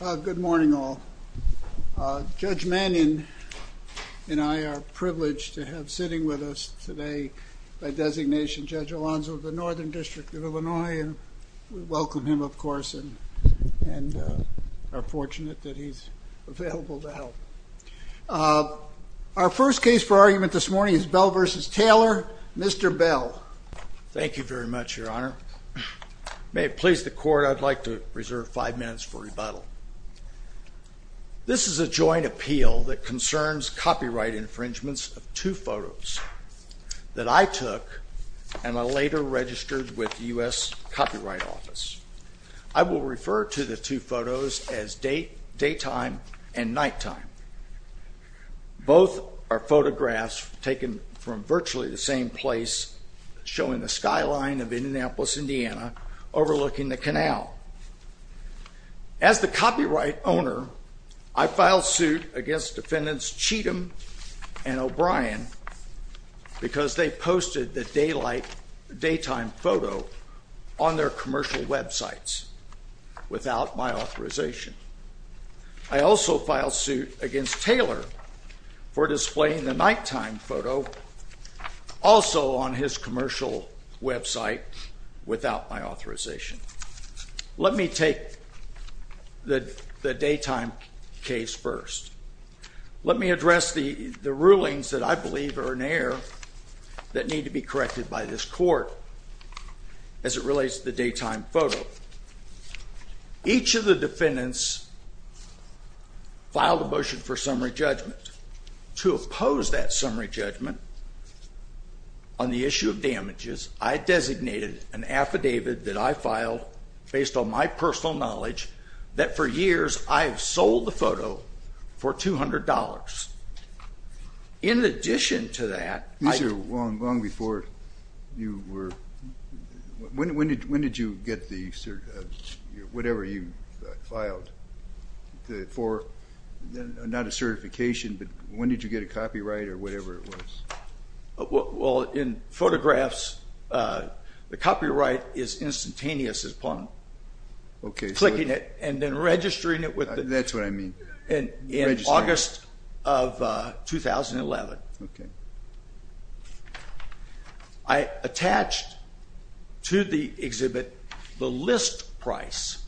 Good morning, all. Judge Mannion and I are privileged to have sitting with us today by designation Judge Alonzo of the Northern District of Illinois. And we welcome him, of course, and are fortunate that he's available to help. Our first case for argument this morning is Bell v. Taylor, Mr. Bell. Thank you very much, Your Honor. May it please the court, I'd like to reserve five minutes for rebuttal. This is a joint appeal that concerns copyright infringements of two photos that I took and I later registered with the US Copyright Office. I will refer to the two photos as daytime and nighttime. Both are photographs taken from virtually the same place, showing the skyline of Indianapolis, Indiana, overlooking the canal. As the copyright owner, I filed suit against defendants Cheatham and O'Brien because they posted the daytime photo on their commercial websites without my authorization. I also filed suit against Taylor for displaying the nighttime photo also on his commercial website without my authorization. Let me take the daytime case first. Let me address the rulings that I believe are in error that need to be corrected by this court as it relates to the daytime photo. Each of the defendants filed a motion for summary judgment. To oppose that summary judgment on the issue of damages, I designated an affidavit that I filed based on my personal knowledge that for years I have sold the photo for $200. In addition to that, I- These are long before you were- when did you get the cert- whatever you filed for, not a certification, but when did you get a copyright or whatever it was? Well, in photographs, the copyright is instantaneous as pun. Clicking it and then registering it with- That's what I mean. And in August of 2011, I attached to the exhibit the list price.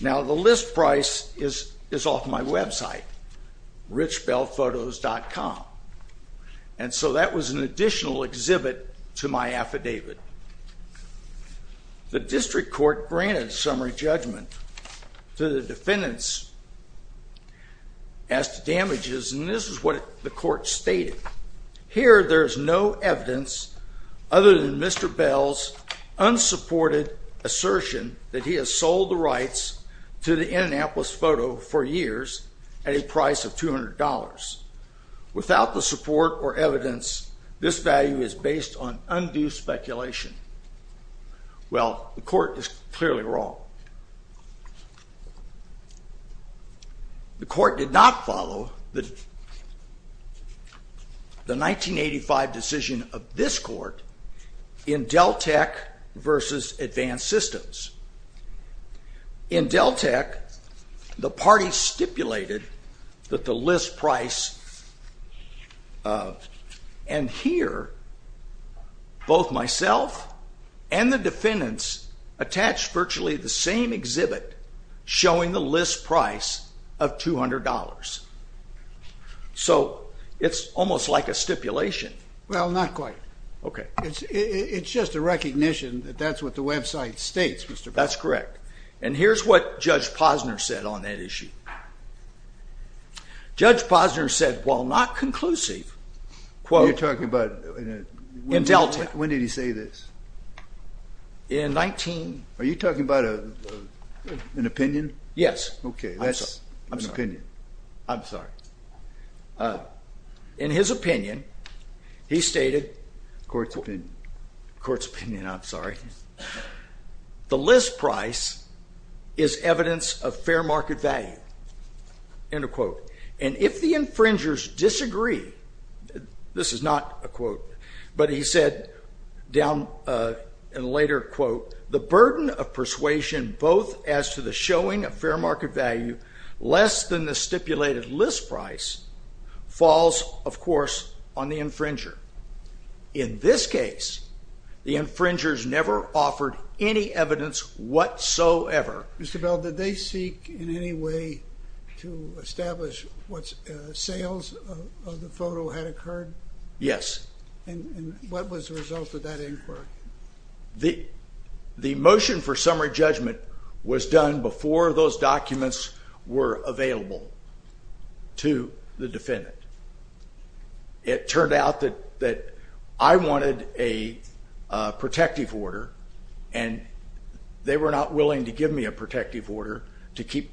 Now, the list price is off my website, richbellphotos.com. And so that was an additional exhibit to my affidavit. The district court granted summary judgment to the defendants as to damages, and this is what the court stated. Here, there is no evidence other than Mr. Bell's unsupported assertion that he has sold the rights to the Indianapolis photo for years at a price of $200. Without the support or evidence, this value is based on undue speculation. Well, the court is clearly wrong. The court did not follow the 1985 decision of this court in Deltek versus Advanced Systems. In Deltek, the party stipulated that the list price of- and here, both myself and the defendants attached virtually the same exhibit showing the list price of $200. So it's almost like a stipulation. Well, not quite. It's just a recognition that that's what the website states, Mr. Bell. That's correct. And here's what Judge Posner said on that issue. Judge Posner said, while not conclusive, quote- You're talking about- In Deltek. When did he say this? In 19- Are you talking about an opinion? Yes. OK, that's an opinion. I'm sorry. In his opinion, he stated- Court's opinion. Court's opinion, I'm sorry. The list price is evidence of fair market value, end of quote. And if the infringers disagree, this is not a quote, but he said down in a later quote, the burden of persuasion, both as to the showing of fair market value, less than the stipulated list price, falls, of course, on the infringer. In this case, the infringers never offered any evidence whatsoever. Mr. Bell, did they seek in any way to establish what sales of the photo had occurred? Yes. And what was the result of that inquiry? The motion for summary judgment was done before those documents were available to the defendant. It turned out that I wanted a protective order, and they were not willing to give me a protective order to keep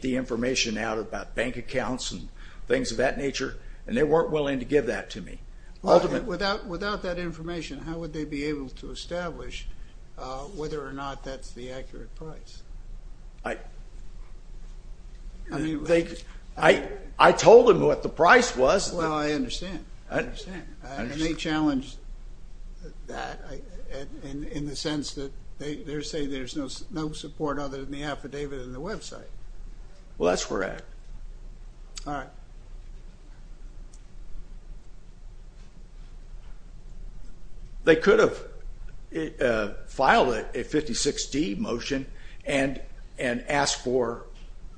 the information out about bank accounts and things of that nature, and they weren't willing to give that to me. Without that information, how would they be able to establish whether or not that's the accurate price? I told them what the price was. Well, I understand. I understand. And they challenged that in the sense that they're saying there's no support other than the affidavit and the website. Well, that's correct. All right. They could have filed a 56-D motion and asked for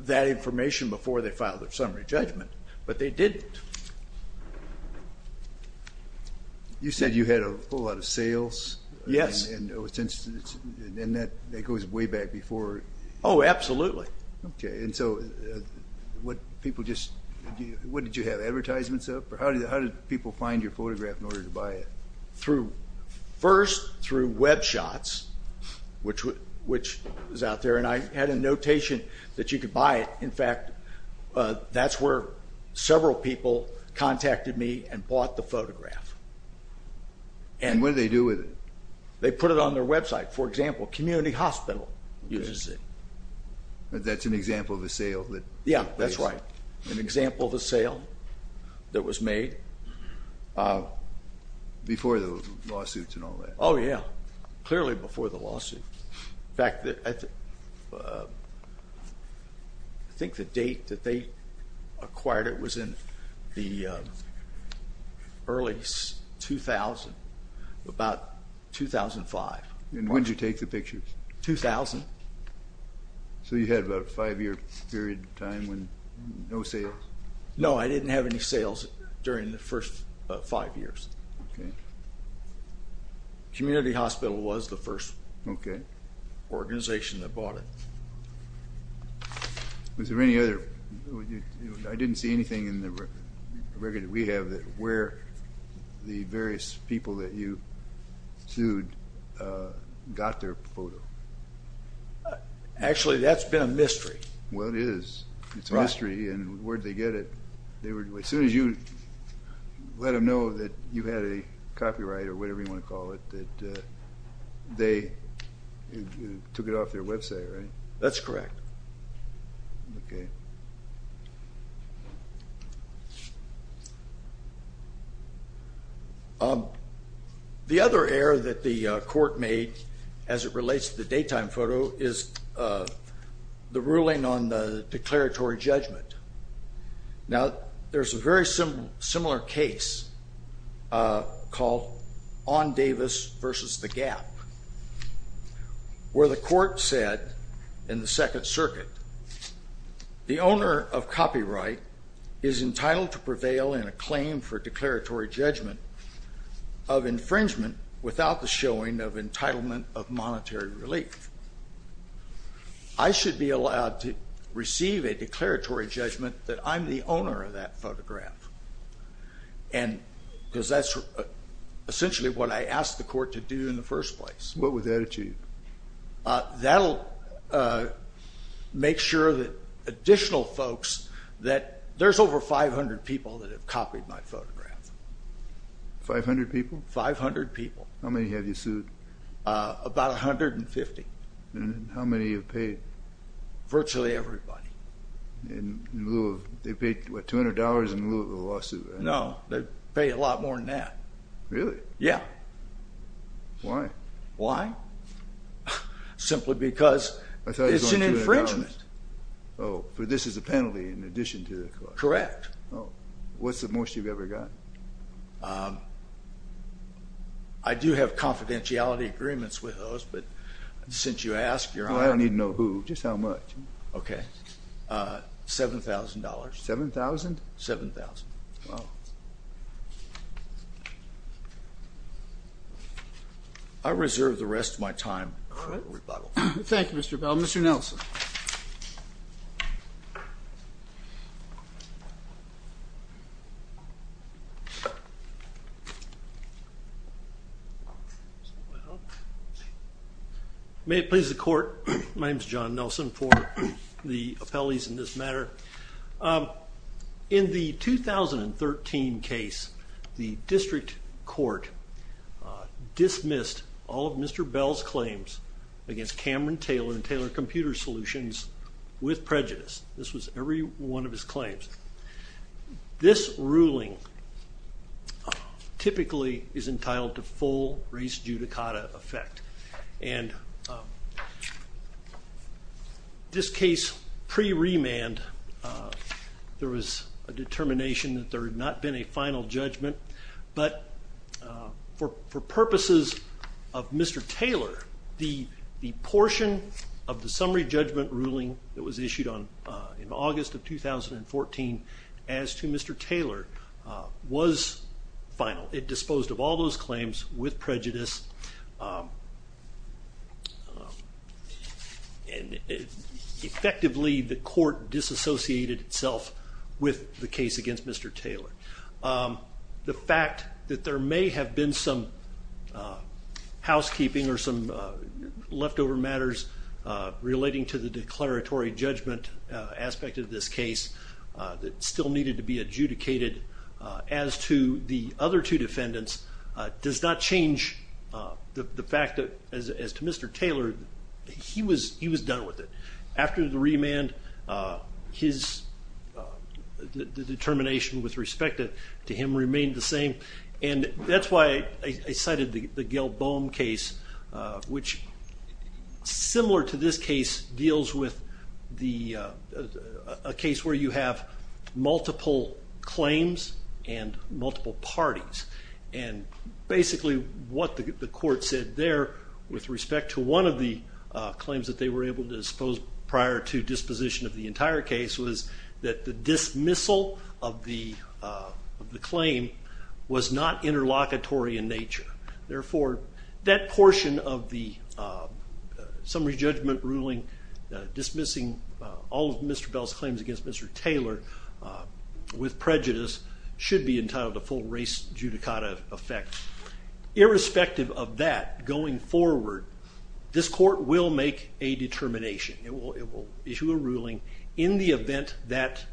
that information before they filed their summary judgment, but they didn't. You said you had a whole lot of sales. Yes. And that goes way back before. Oh, absolutely. OK, and so what did you have, advertisements of? Or how did people find your photograph in order to buy it? First, through Web Shots, which is out there. And I had a notation that you could buy it. In fact, that's where several people contacted me and bought the photograph. And what did they do with it? They put it on their website. For example, Community Hospital uses it. That's an example of a sale that took place. Yeah, that's right. An example of a sale that was made. Before the lawsuits and all that. Oh, yeah. Clearly before the lawsuit. In fact, I think the date that they acquired it was in the early 2000, about 2005. And when did you take the pictures? 2000. So you had about a five-year period of time when no sales? No, I didn't have any sales during the first five years. Community Hospital was the first organization that bought it. Was there any other? I didn't see anything in the record that we have that where the various people that you sued got their photo. Actually, that's been a mystery. Well, it is. It's a mystery. And where'd they get it? As soon as you let them know that you had a copyright or whatever you want to call it, that they took it off their website, right? That's correct. The other error that the court made as it relates to the daytime photo is the ruling on the declaratory judgment. Now, there's a very similar case called on Davis versus the gap, where the court said in the Second Circuit, the owner of copyright is entitled to prevail in a claim for declaratory judgment of infringement without the showing of entitlement of monetary relief. I should be allowed to receive a declaratory judgment that I'm the owner of that photograph. And because that's essentially what I asked the court to do in the first place. What would that achieve? That'll make sure that additional folks that there's over 500 people that have copied my photograph. 500 people? 500 people. How many have you sued? About 150. How many have paid? Virtually everybody. They paid, what, $200 in lieu of the lawsuit? No, they pay a lot more than that. Really? Yeah. Why? Why? Simply because it's an infringement. Oh, but this is a penalty in addition to the cost. Correct. What's the most you've ever got? I do have confidentiality agreements with those, but since you asked, you're on. I don't need to know who, just how much. OK, $7,000. $7,000? $7,000. Wow. I reserve the rest of my time for rebuttal. Thank you, Mr. Bell. Mr. Nelson. May it please the court, my name's John Nelson for the appellees in this matter. In the 2013 case, the district court dismissed all of Mr. Bell's claims against Cameron Taylor and Taylor Computer Solutions with prejudice. This was every one of his claims. This ruling typically is entitled to full race judicata effect. And this case, pre-remand, there was a determination that there had not been a final judgment. But for purposes of Mr. Taylor, the portion of the summary judgment ruling that was issued in August of 2014 as to Mr. Taylor was final. It disposed of all those claims with prejudice. And effectively, the court disassociated itself with the case against Mr. Taylor. The fact that there may have been some housekeeping or some leftover matters relating to the declaratory judgment aspect of this case that still needed to be adjudicated as to the other two defendants does not change the fact that, as to Mr. Taylor, he was done with it. After the remand, the determination with respect to him remained the same. And that's why I cited the Gil Boehm case, which, similar to this case, deals with a case where you have multiple claims and multiple parties. And basically, what the court said there with respect to one of the claims that they were able to dispose prior to disposition of the entire case was that the dismissal of the claim was not interlocutory in nature. Therefore, that portion of the summary judgment ruling, dismissing all of Mr. Bell's claims against Mr. Taylor with prejudice, should be entitled to full race judicata effect. Irrespective of that, going forward, this court will make a determination. It will issue a ruling in the event that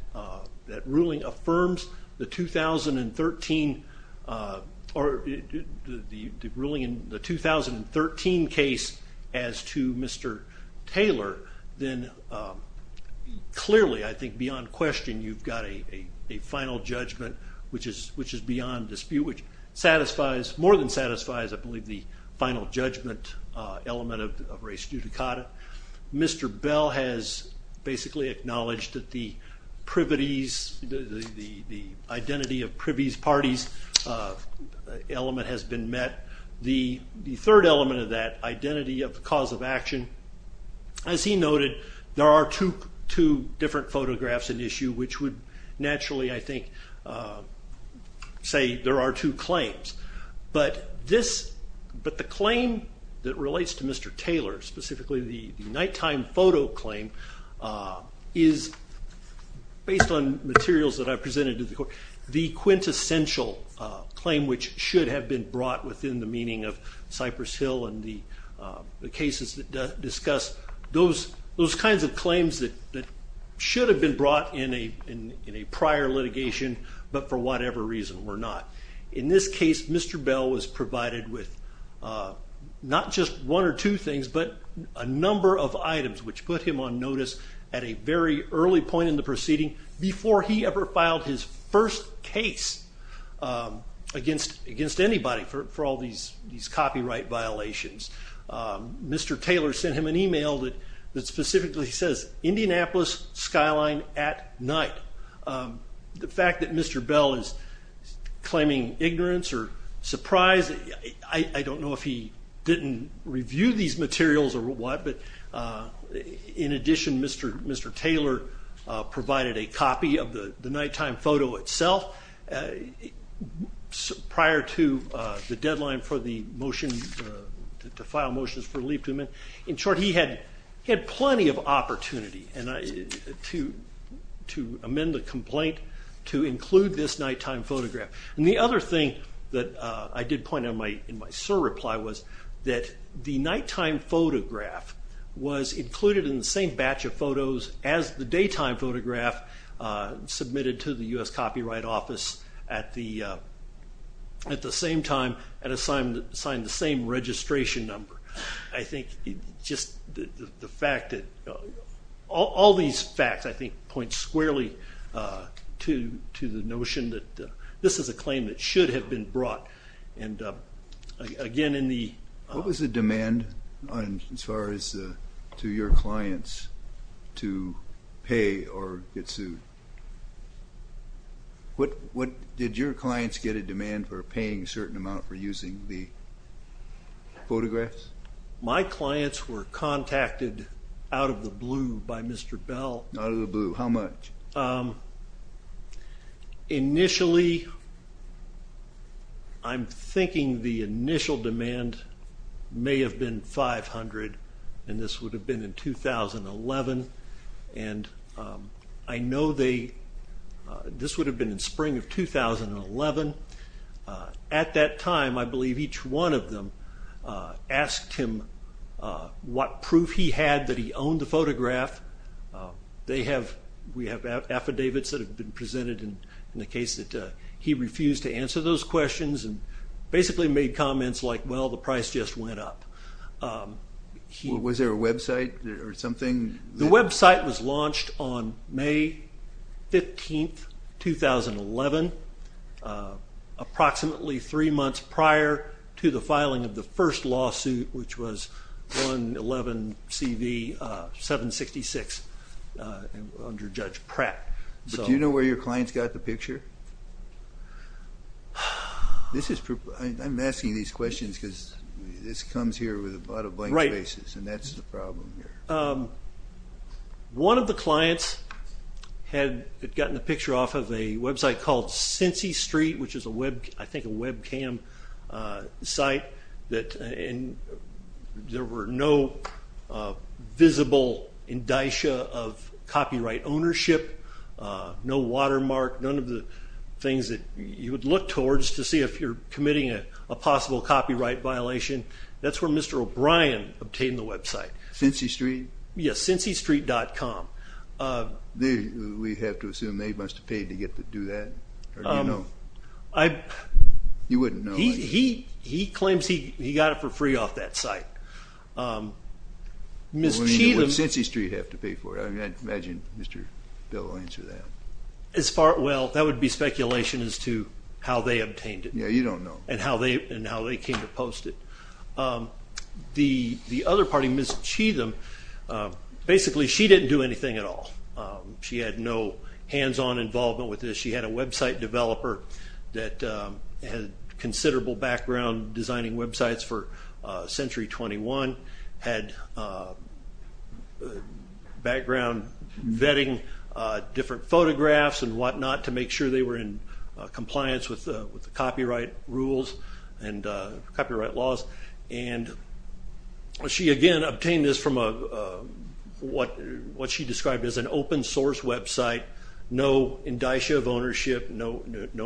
that ruling affirms the 2013 case as to Mr. Taylor, then clearly, I think, beyond question, you've got a final judgment which is beyond dispute, which satisfies, more than satisfies, I believe, the final judgment element of race judicata. Mr. Bell has basically acknowledged that the privities, the identity of privies parties element has been met. The third element of that, identity of the cause of action, as he noted, there are two different photographs in issue which would naturally, I think, say there are two claims. But the claim that relates to Mr. Taylor, specifically the nighttime photo claim, is based on materials that I presented to the court, the quintessential claim which should have been brought within the meaning of Cypress Hill and the cases that discuss those kinds of claims that should have been brought in a prior litigation, but for whatever reason were not. In this case, Mr. Bell was provided with not just one or two things, but a number of items which put him on notice at a very early point in the proceeding before he ever filed his first case against anybody for all these copyright violations. Mr. Taylor sent him an email that specifically says, Indianapolis skyline at night. The fact that Mr. Bell is claiming ignorance or surprise, I don't know if he didn't review these materials or what, but in addition, Mr. Taylor provided a copy of the nighttime photo itself prior to the deadline for the motion to file motions for leave to amend. In short, he had plenty of opportunity to amend the complaint to include this nighttime photograph. And the other thing that I did point out in my surreply was that the nighttime photograph was included in the same batch of photos as the daytime photograph submitted to the US Copyright Office at the same time and assigned the same registration number. I think just the fact that all these facts, I think, point squarely to the notion that this is a claim that should have been brought. And again, in the- What was the demand as far as to your clients to pay or get sued? Did your clients get a demand for paying a certain amount for using the photographs? My clients were contacted out of the blue by Mr. Bell. Out of the blue. How much? I'm thinking the initial demand may have been $500, and this would have been in 2011. And I know this would have been in spring of 2011. At that time, I believe each one of them asked him what proof he had that he owned the photograph. We have affidavits that have been presented in the case that he refused to answer those questions and basically made comments like, well, the price just went up. Was there a website or something? The website was launched on May 15, 2011, approximately three months prior to the filing of the first lawsuit, which was 111 CV 766 under Judge Pratt. But do you know where your clients got the picture? I'm asking these questions because this comes here with a lot of blank faces, and that's the problem here. One of the clients had gotten a picture off of a website called Cincy Street, which is, I think, a webcam site, and there were no visible indicia of copyright ownership, no watermark, none of the things that you would look towards to see if you're committing a possible copyright violation. That's where Mr. O'Brien obtained the website. Cincy Street? Yes, cincystreet.com. We have to assume they must have paid to get to do that. Or do you know? You wouldn't know. He claims he got it for free off that site. Ms. Cheatham. Well, when you do it, Cincy Street have to pay for it. I imagine Mr. Bill will answer that. As far as, well, that would be speculation as to how they obtained it. Yeah, you don't know. And how they came to post it. The other party, Ms. Cheatham, basically she didn't do anything at all. She had no hands-on involvement with this. She had a website developer that had considerable background designing websites for Century 21, had background vetting different photographs and whatnot to make sure they were in compliance with the copyright rules and copyright laws. And she, again, obtained this from what she described as an open source website. No indicia of ownership, no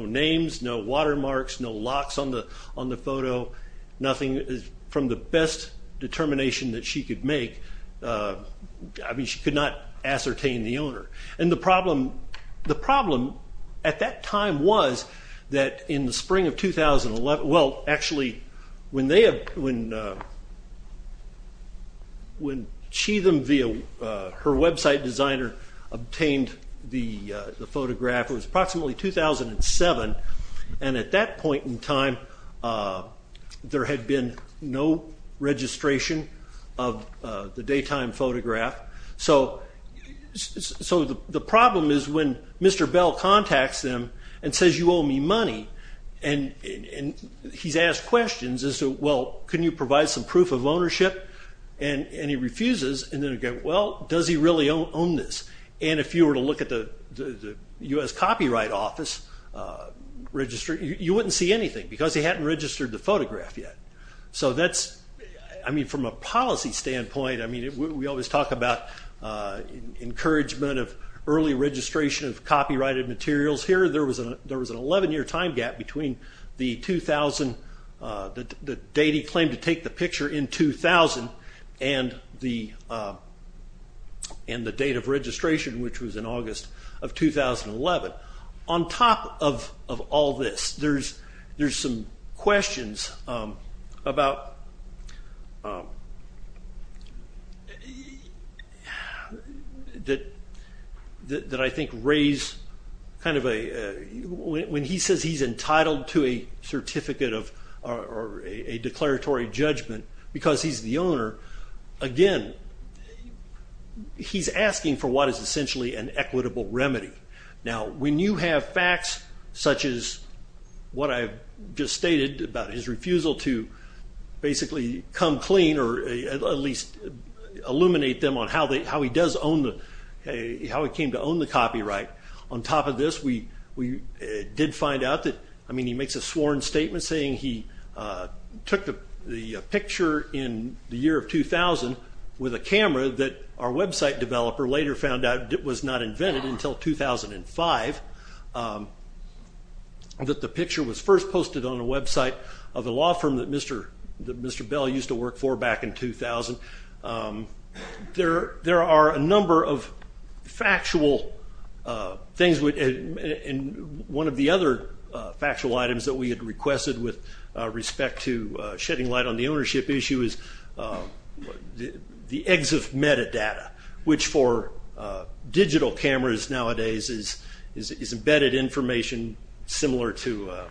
names, no watermarks, no locks on the photo, nothing from the best determination that she could make. I mean, she could not ascertain the owner. And the problem at that time was that in the spring of 2011, well, actually, when Cheatham, via her website designer, obtained the photograph, it was approximately 2007. And at that point in time, there had been no registration of the daytime photograph. So the problem is when Mr. Bell contacts them and says, you owe me money, and he's asked questions as to, well, can you provide some proof of ownership? And he refuses. And then, again, well, does he really own this? And if you were to look at the US Copyright Office, you wouldn't see anything, because he hadn't registered the photograph yet. So that's, I mean, from a policy standpoint, I mean, we always talk about encouragement of early registration of copyrighted materials. Here, there was an 11-year time gap between the 2000, the date he claimed to take the picture in 2000, and the date of registration, which was in August of 2011. On top of all this, there's some questions that I think raise kind of a, when he says he's entitled to a certificate of a declaratory judgment, because he's the owner, again, he's asking for what is essentially an equitable remedy. Now, when you have facts such as what I've just stated about his refusal to basically come clean, or at least illuminate them on how he does own the, how he came to own the copyright, on top of this, we did find out that, I mean, he makes a sworn statement saying he took the picture in the year of 2000 with a camera that our website developer later found out was not invented until 2005, that the picture was first posted on a website of a law firm that Mr. Bell used to work for back in 2000. There are a number of factual things, and one of the other factual items that we had requested with respect to shedding light on the ownership issue is the exit metadata, which for digital cameras nowadays is embedded information similar to a-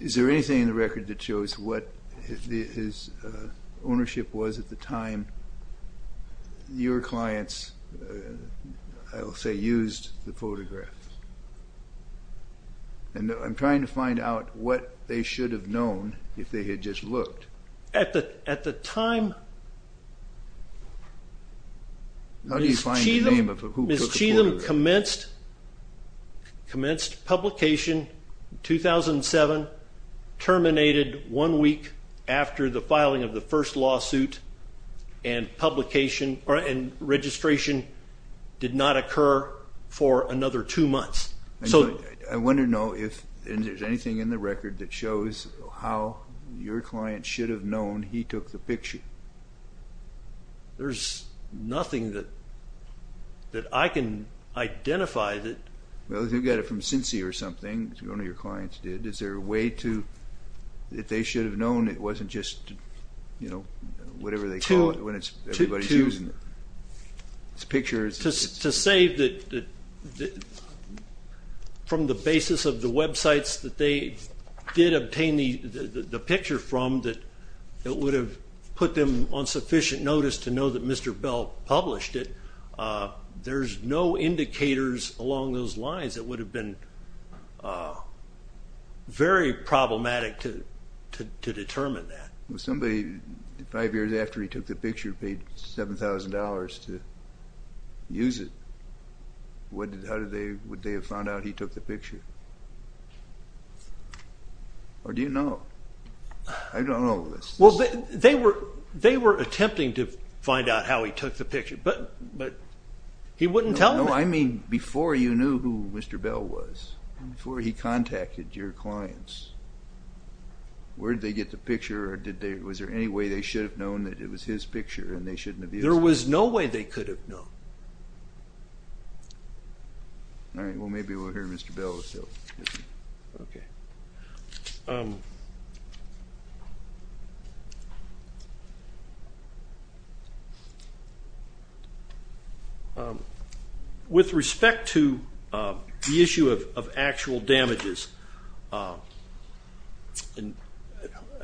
Is there anything in the record that shows what his ownership was at the time your clients, I will say, used the photograph? And I'm trying to find out what they should have known if they had just looked. At the time, Ms. Cheatham commenced publication in 2007, terminated one week after the filing of the first lawsuit, and registration did not occur for another two months. I want to know if there's anything in the record that shows how your client should have known he took the picture. There's nothing that I can identify that- Well, you got it from CINCI or something, one of your clients did. Is there a way that they should have known it wasn't just whatever they call it when everybody's using the picture? To say that from the basis of the websites that they did obtain the picture from, that it would have put them on sufficient notice to know that Mr. Bell published it, there's no indicators along those lines that would have been very problematic to determine that. Well, somebody five years after he took the picture paid $7,000 to use it. How would they have found out he took the picture? Or do you know? I don't know. Well, they were attempting to find out how he took the picture, but he wouldn't tell them. Before you knew who Mr. Bell was, before he contacted your clients, where did they get the picture? Was there any way they should have known that it was his picture and they shouldn't have used it? There was no way they could have known. Well, maybe we'll hear Mr. Bell's. With respect to the issue of actual damages, I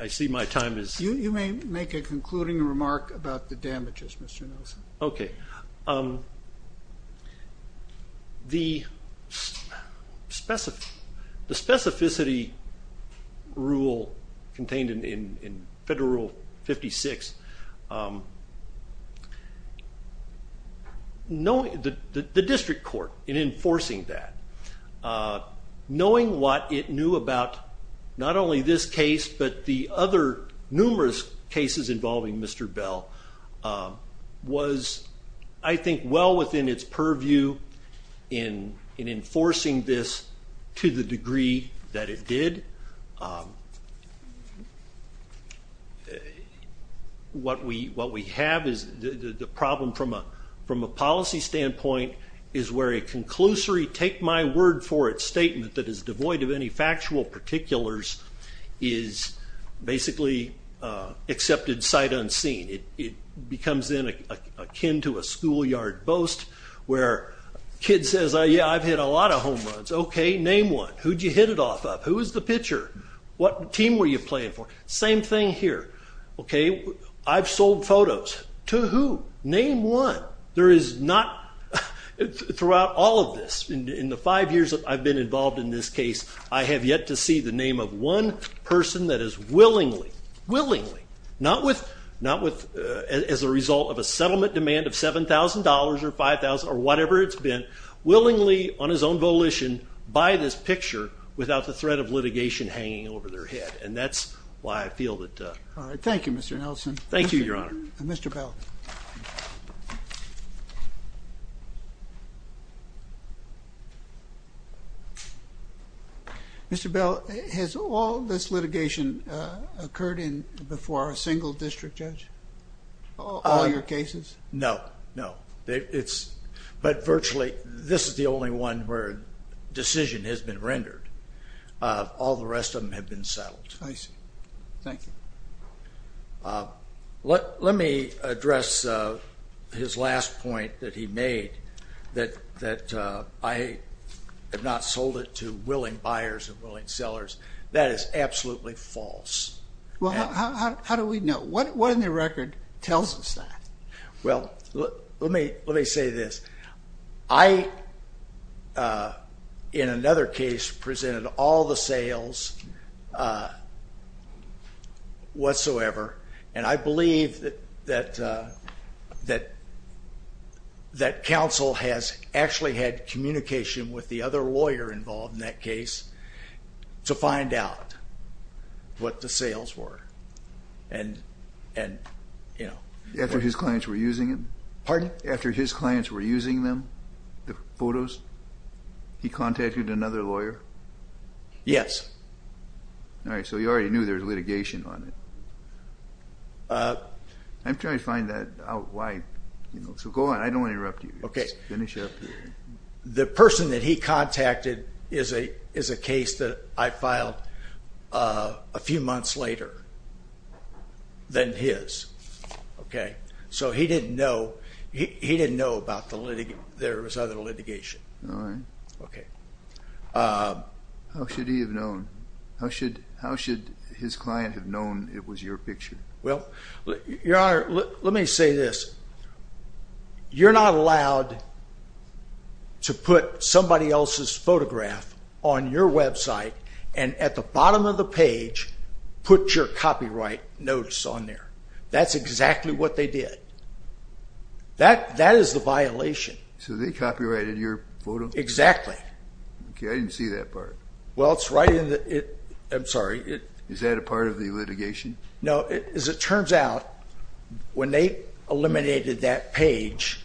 see my time is up. You may make a concluding remark about the damages, Mr. Nelson. OK. The specificity rule contained in Federal Rule 56, the district court in enforcing that, knowing what it knew about not only this case, but the other numerous cases involving Mr. Bell, was, I think, well within its purview in enforcing this to the degree that it did. What we have is the problem from a policy standpoint is where a conclusory, take my word for it, statement that is devoid of any factual particulars is basically accepted sight unseen. It becomes then akin to a schoolyard boast where a kid says, yeah, I've hit a lot of home runs. OK, name one. Who'd you hit it off of? Who was the pitcher? What team were you playing for? Same thing here. OK, I've sold photos. To who? Name one. There is not, throughout all of this, in the five years I've been involved in this case, I have yet to see the name of one person that is willingly, willingly, not with, as a result of a settlement demand of $7,000 or $5,000 or whatever it's been, willingly, on his own volition, buy this picture without the threat of litigation hanging over their head. And that's why I feel that. All right, thank you, Mr. Nelson. Thank you, Your Honor. Mr. Bell. Mr. Bell, has all this litigation occurred before a single district judge? All your cases? No, no. But virtually, this is the only one where a decision has been rendered. All the rest of them have been settled. I see. Thank you. Let me address his last point that he made, that I have not sold it to willing buyers and willing sellers. That is absolutely false. Well, how do we know? What in the record tells us that? Well, let me say this. I, in another case, presented all the sales whatsoever. And I believe that counsel has actually had communication with the other lawyer involved in that case to find out what the sales were. After his clients were using it? Pardon? After his clients were using them, the photos, he contacted another lawyer? Yes. All right, so you already knew there was litigation on it. I'm trying to find that out why. So go on. I don't want to interrupt you. Just finish up here. The person that he contacted is a case that I filed a few months later than his. OK, so he didn't know. He didn't know about the litigation. There was other litigation. All right. OK. How should he have known? How should his client have known it was your picture? Well, Your Honor, let me say this. You're not allowed to put somebody else's photograph on your website, and at the bottom of the page, put your copyright notice on there. That's exactly what they did. That is the violation. So they copyrighted your photo? Exactly. OK, I didn't see that part. Well, it's right in the, I'm sorry. Is that a part of the litigation? No, as it turns out, when they eliminated that page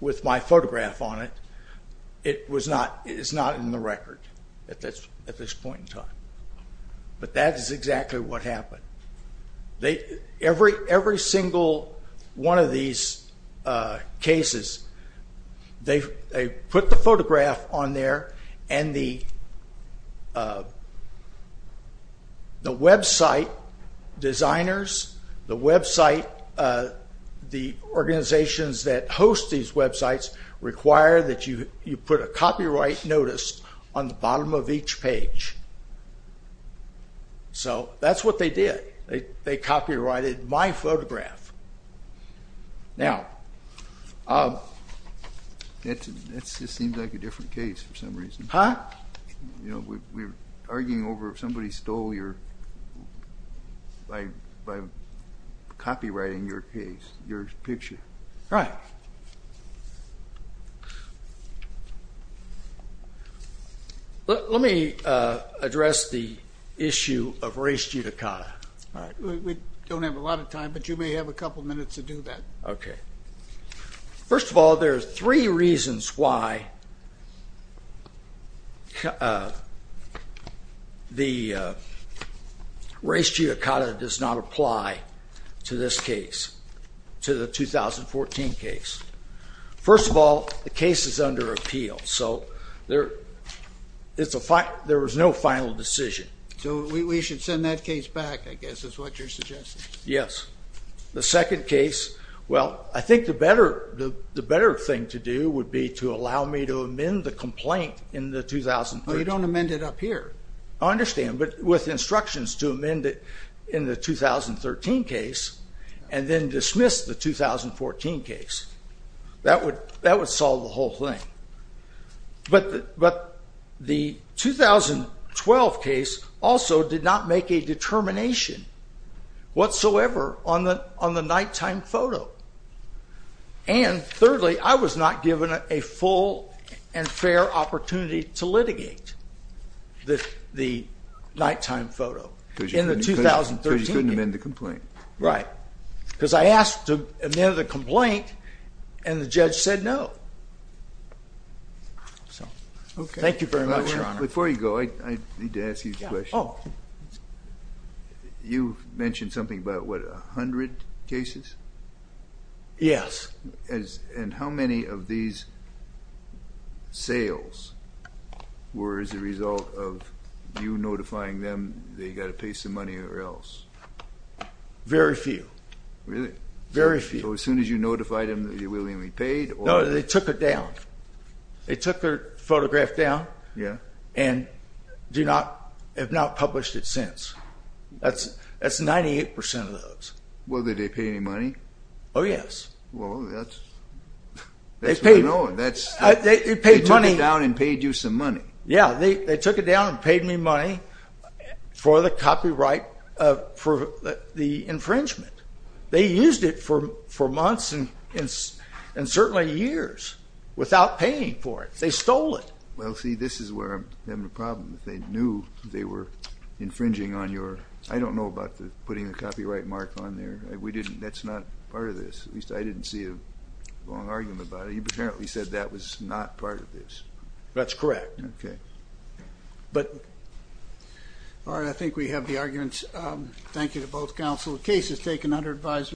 with my photograph on it, it's not in the record at this point in time. But that is exactly what happened. They, every single one of these cases, they put the photograph on there, and the website designers, the website, the organizations that host these websites require that you put a copyright notice on the bottom of each page. So that's what they did. They copyrighted my photograph. Now, that just seems like a different case for some reason. Huh? You know, we were arguing over if somebody stole your, by copyrighting your case, your picture. Right. Well, let me address the issue of race judicata. We don't have a lot of time, but you may have a couple minutes to do that. OK. First of all, there are three reasons why the race judicata does not apply to this case, to the 2014 case. First of all, the case is under appeal, so there was no final decision. So we should send that case back, I guess, is what you're suggesting. Yes. The second case, well, I think the better thing to do would be to allow me to amend the complaint in the 2013. No, you don't amend it up here. I understand, but with instructions to amend it in the 2013 case, and then dismiss the 2014 case, that would solve the whole thing. But the 2012 case also did not make a determination whatsoever on the nighttime photo. And thirdly, I was not given a full and fair opportunity to litigate the nighttime photo in the 2013 case. Because you couldn't amend the complaint. Right. Because I asked to amend the complaint, and the judge said no. So thank you very much, Your Honor. Before you go, I need to ask you a question. You mentioned something about, what, 100 cases? Yes. And how many of these sales were as a result of you notifying them that you've got to pay some money or else? Very few. Really? Very few. So as soon as you notified them that you willingly paid? No, they took it down. They took the photograph down and have not published it since. That's 98% of those. Well, did they pay any money? Oh, yes. Well, that's unknown. They paid money. They took it down and paid you some money. Yeah, they took it down and paid me money for the copyright, for the infringement. They used it for months and certainly years without paying for it. They stole it. Well, see, this is where I'm having a problem. They knew they were infringing on your, I don't know about putting the copyright mark on there. That's not part of this. At least I didn't see a long argument about it. You apparently said that was not part of this. That's correct. Okay. All right, I think we have the arguments. Thank you to both counsel. The case is taken under advisory.